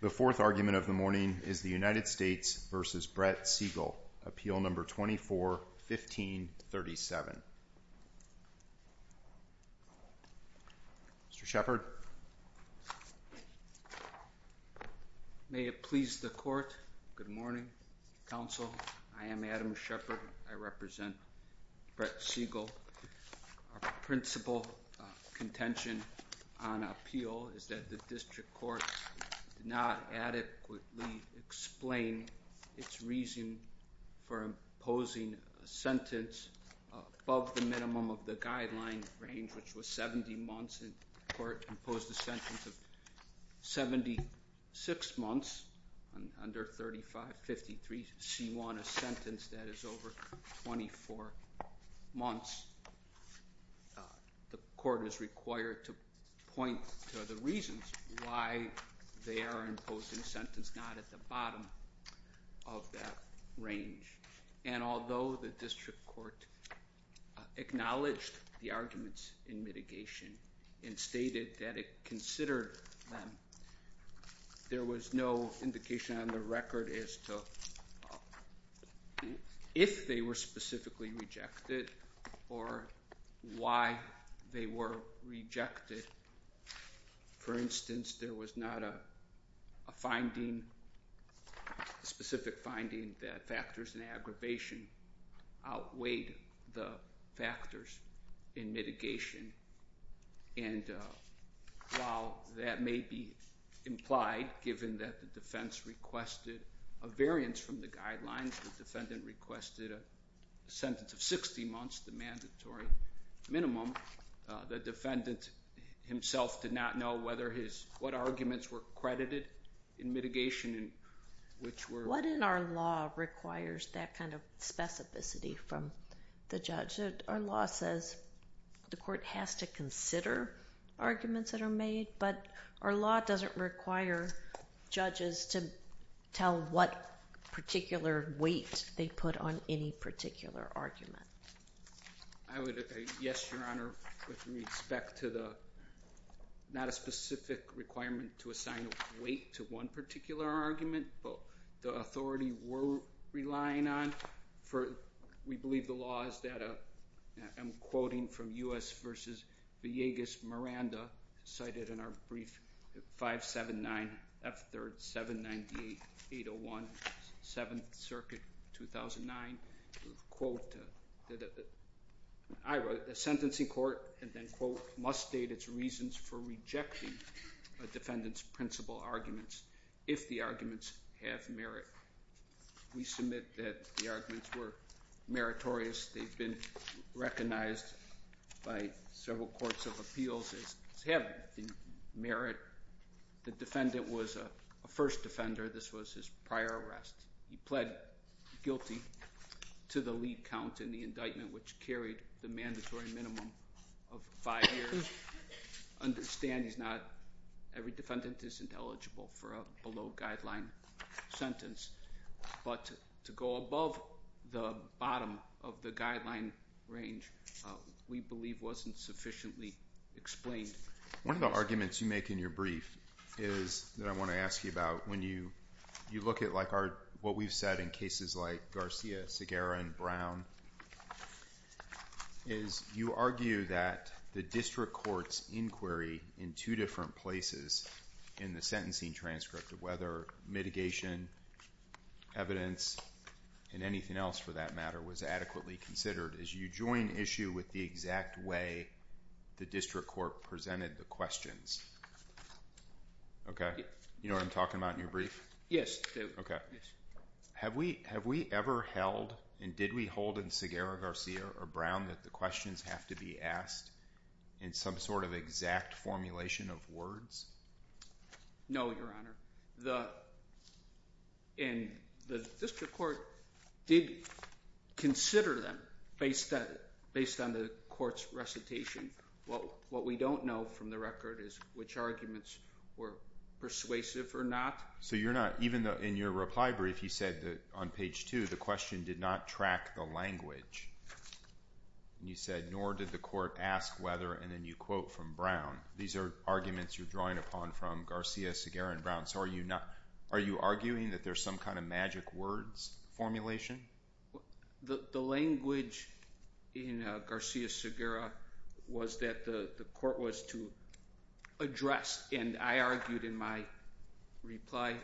The fourth argument of the morning is the United States v. Brett Siegel, Appeal No. 24-1537. Mr. Shepard. May it please the Court, good morning, Counsel. I am Adam Shepard. I represent Brett Siegel. Our principal contention on appeal is that the District Court did not adequately explain its reason for imposing a sentence above the minimum of the guideline range, which was 70 months, and the Court imposed a sentence of 76 months under 3553C1, a sentence that is over 24 months. The Court is required to point to the reasons why they are imposing a sentence not at the bottom of that range. And although the District Court acknowledged the arguments in mitigation and stated that it considered them, there was no indication on the record as to if they were specifically rejected or why they were rejected. For instance, there was not a finding, a specific finding that factors in aggravation outweighed the factors in mitigation. And while that may be implied, given that the defense requested a variance from the guidelines, the defendant requested a sentence of 60 months, the mandatory minimum, the defendant himself did not know what arguments were credited in mitigation. What in our law requires that kind of specificity from the judge? Our law says the Court has to consider arguments that are made, but our law doesn't require judges to tell what particular weight they put on any particular argument. I would agree, yes, Your Honor, with respect to the, not a specific requirement to assign a weight to one particular argument, but the authority we're relying on for, we believe the law is that, I'm quoting from U.S. v. Villegas-Miranda, cited in our brief 579F3rd 798801, 7th Circuit, 2009, quote, I wrote, a sentencing court, and then quote, must state its reasons for rejecting a defendant's principal arguments if the arguments have merit. We submit that the arguments were meritorious, they've been recognized by several courts of appeals as having merit. The defendant was a first defender, this was his prior arrest. He pled guilty to the lead count in the indictment, which carried the mandatory minimum of 5 years. Understand he's not, every defendant isn't eligible for a below guideline sentence, but to go above the bottom of the guideline range, we believe wasn't sufficiently explained. One of the arguments you make in your brief is, that I want to ask you about, when you look at like our, what we've said in cases like Garcia, Segarra, and Brown, is you argue that the district court's inquiry in two different places in the sentencing transcript of whether mitigation, evidence, and anything else for that matter was adequately considered as you join issue with the exact way the district court presented the questions. Okay? You know what I'm talking about in your brief? Yes. Okay. Have we ever held, and did we hold in Segarra, Garcia, or Brown that the questions have to be asked in some sort of exact formulation of words? No, Your Honor. The, and the district court did consider them based on the court's recitation. What we don't know from the record is which arguments were persuasive or not. So you're not, even in your reply brief, you said that on page 2, the question did not track the language. And you said, nor did the court ask whether, and then you quote from Brown, these are arguments you're drawing upon from Garcia, Segarra, and Brown. So are you not, are you arguing that there's some kind of magic words formulation? The language in Garcia, Segarra, was that the court was to address, and I argued in my reply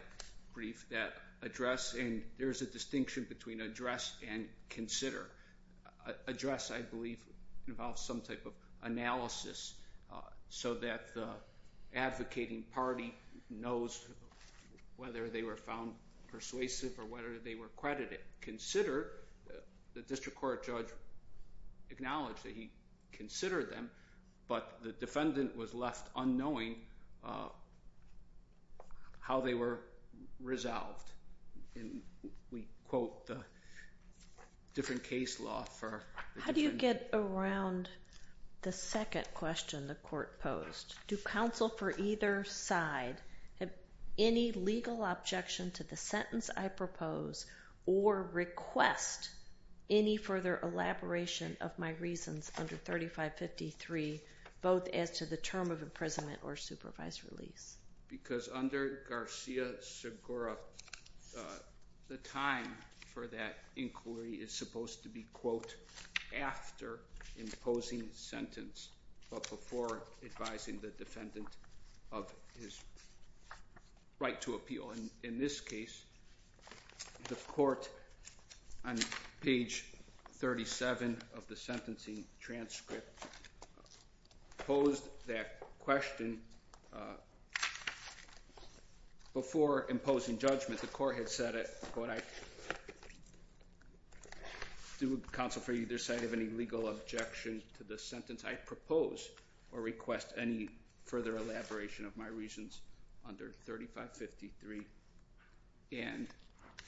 brief that address, and there's a distinction between address and consider. Address I believe involves some type of analysis so that the advocating party knows whether they were found persuasive or whether they were credited. Consider, the district court judge acknowledged that he considered them, but the defendant was left unknowing how they were resolved. And we quote the different case law for... How do you get around the second question the court posed? Do counsel for either side have any legal objection to the sentence I propose or request any further elaboration of my reasons under 3553, both as to the term of imprisonment or supervised release? Because under Garcia, Segarra, the time for that inquiry is supposed to be quote, after imposing sentence, but before advising the defendant of his right to appeal. In this case, the court, on page 37 of the sentencing transcript, posed that question before imposing judgment. The court had said it, but I... Do counsel for either side have any legal objection to the sentence I propose or request any further elaboration of my reasons under 3553? And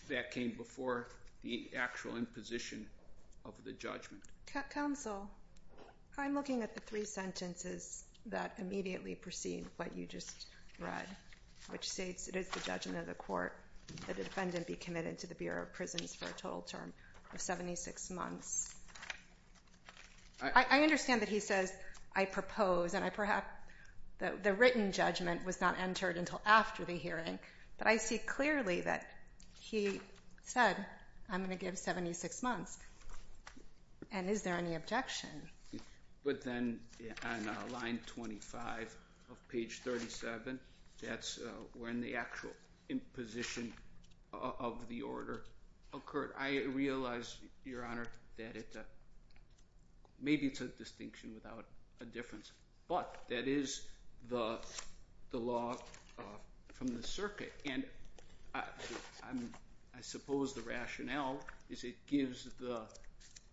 that came before the actual imposition of the judgment. Counsel, I'm looking at the three sentences that immediately precede what you just read, which states it is the judgment of the court that the defendant be committed to the Bureau of Prisons for a total term of 76 months. I understand that he says, I propose, and I perhaps... The written judgment was not entered until after the hearing, but I see clearly that he said, I'm going to give 76 months. And is there any objection? But then on line 25 of page 37, that's when the actual imposition of the order occurred. I realize, Your Honor, that it... Maybe it's a distinction without a difference, but that is the law from the circuit. And I suppose the rationale is it gives the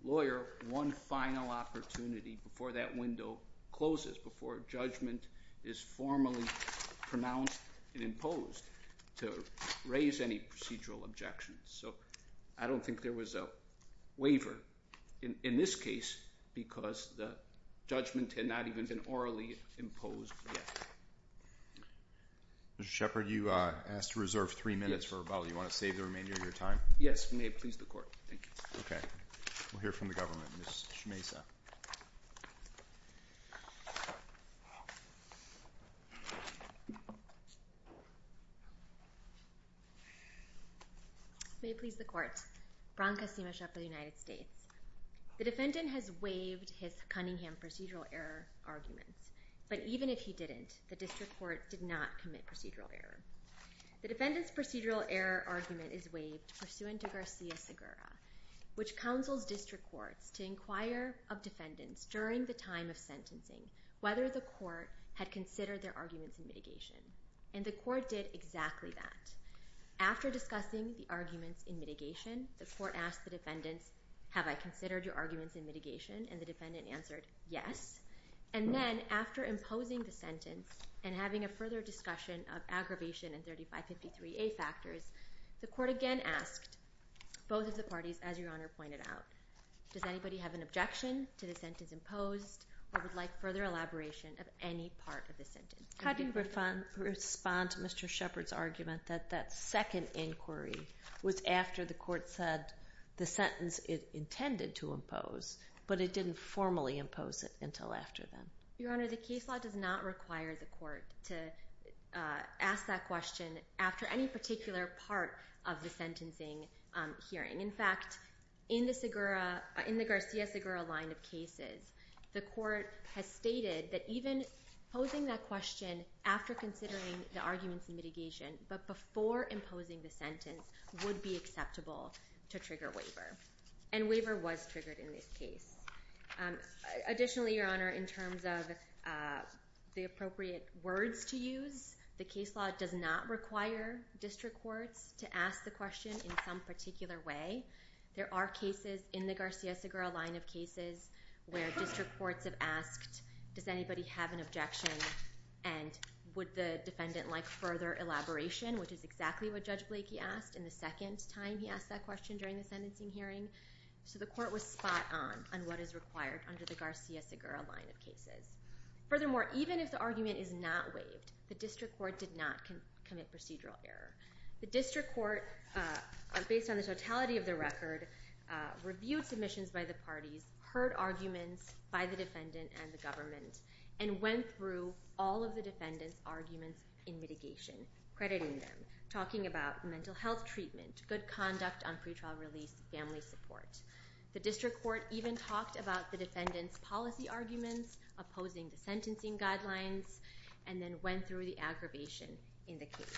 lawyer one final opportunity before that window closes, before judgment is formally pronounced and imposed to raise any procedural objections. So I don't think there was a waiver in this case because the judgment had not even been orally imposed yet. Mr. Shepard, you asked to reserve three minutes for rebuttal. Do you want to save the remainder of your time? Yes. May it please the Court. Thank you. Okay. We'll hear from the government. Ms. Shmaisa. May it please the Court. Bronca Sima-Shepard, United States. The defendant has waived his Cunningham procedural error arguments. But even if he didn't, the district court did not commit procedural error. The defendant's procedural error argument is waived pursuant to Garcia-Segura, which counsels district courts to inquire of defendants during the time of sentencing whether the court had considered their arguments in mitigation. And the court did exactly that. After discussing the arguments in mitigation, the court asked the defendants, have I considered your arguments in mitigation? And the defendant answered, yes. And then after imposing the sentence and having a further discussion of aggravation and 3553A factors, the court again asked both of the parties, as Your Honor pointed out, does anybody have an objection to the sentence imposed or would like further elaboration of any part of the How do you respond to Mr. Shepard's argument that that second inquiry was after the court said the sentence it intended to impose, but it didn't formally impose it until after then? Your Honor, the case law does not require the court to ask that question after any particular part of the sentencing hearing. In fact, in the Garcia-Segura line of cases, the court has stated that even posing that question after considering the arguments in mitigation, but before imposing the sentence, would be acceptable to trigger waiver. And waiver was triggered in this case. Additionally, Your Honor, in terms of the appropriate words to use, the case law does not require district courts to ask the question in some particular way. There are cases in the Garcia-Segura line of cases where district courts have asked, does anybody have an objection and would the defendant like further elaboration, which is exactly what Judge Blakey asked in the second time he asked that question during the sentencing hearing. So the court was spot on on what is required under the Garcia-Segura line of cases. Furthermore, even if the argument is not waived, the district court did not commit procedural error. The district court, based on the totality of the record, reviewed submissions by the parties, heard arguments by the defendant and the government, and went through all of the defendant's arguments in mitigation, crediting them, talking about mental health treatment, good conduct on pretrial release, family support. The district court even talked about the defendant's policy arguments, opposing the sentencing guidelines, and then went through the aggravation in the case.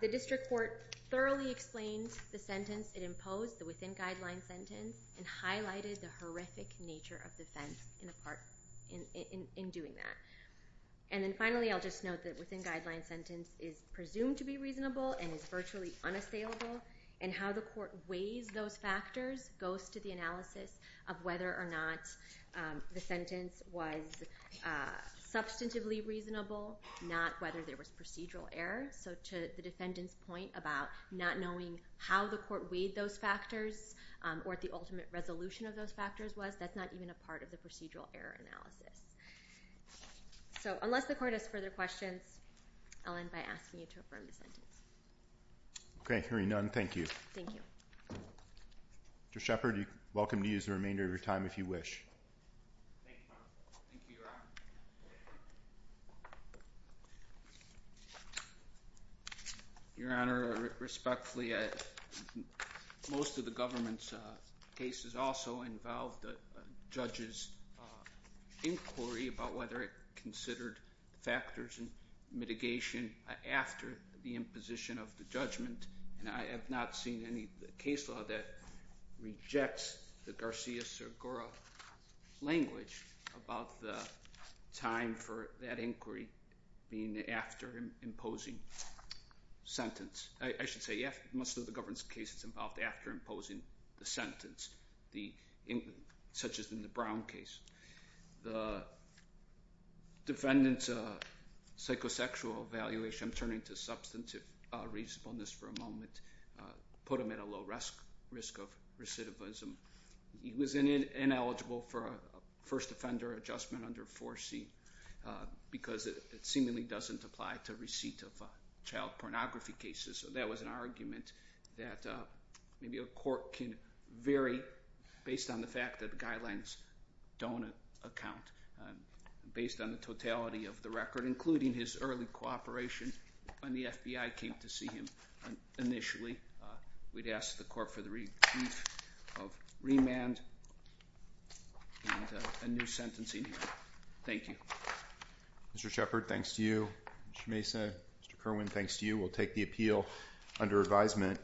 The district court thoroughly explained the sentence it imposed, the within-guideline sentence, and highlighted the horrific nature of the offense in doing that. And then finally, I'll just note that within-guideline sentence is presumed to be reasonable and is virtually unassailable, and how the court weighs those factors goes to the analysis of whether or not the sentence was substantively reasonable, not whether there was to the defendant's point about not knowing how the court weighed those factors or what the ultimate resolution of those factors was. That's not even a part of the procedural error analysis. So unless the court has further questions, I'll end by asking you to affirm the sentence. Okay, hearing none, thank you. Thank you. Judge Shepard, you're welcome to use the remainder of your time if you wish. Your Honor, respectfully, most of the government's cases also involved the judge's inquiry about whether it considered factors and mitigation after the imposition of the judgment, and I have not seen any case law that rejects the Garcia-Segura language about the time for that inquiry being after imposing sentence. I should say most of the government's cases involved after imposing the sentence, such as in the Brown case. The defendant's psychosexual evaluation, I'm turning to substantive reasonableness for a moment, put him at a low risk of recidivism. He was ineligible for a first offender adjustment under 4C because it seemingly doesn't apply to child pornography cases. So that was an argument that maybe a court can vary based on the fact that the guidelines don't account based on the totality of the record, including his early cooperation when the FBI came to see him initially. We'd ask the court for the relief of remand and a new sentencing hearing. Thank you. Mr. Shepard, thanks to you. Mr. Mesa, Mr. Kerwin, thanks to you. We'll take the appeal under advisement.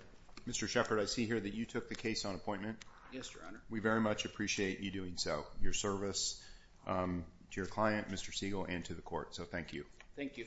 Mr. Shepard, I see here that you took the case on appointment. Yes, Your Honor. We very much appreciate you doing so. Your service to your client, Mr. Siegel, and to the court. So thank you. Thank you.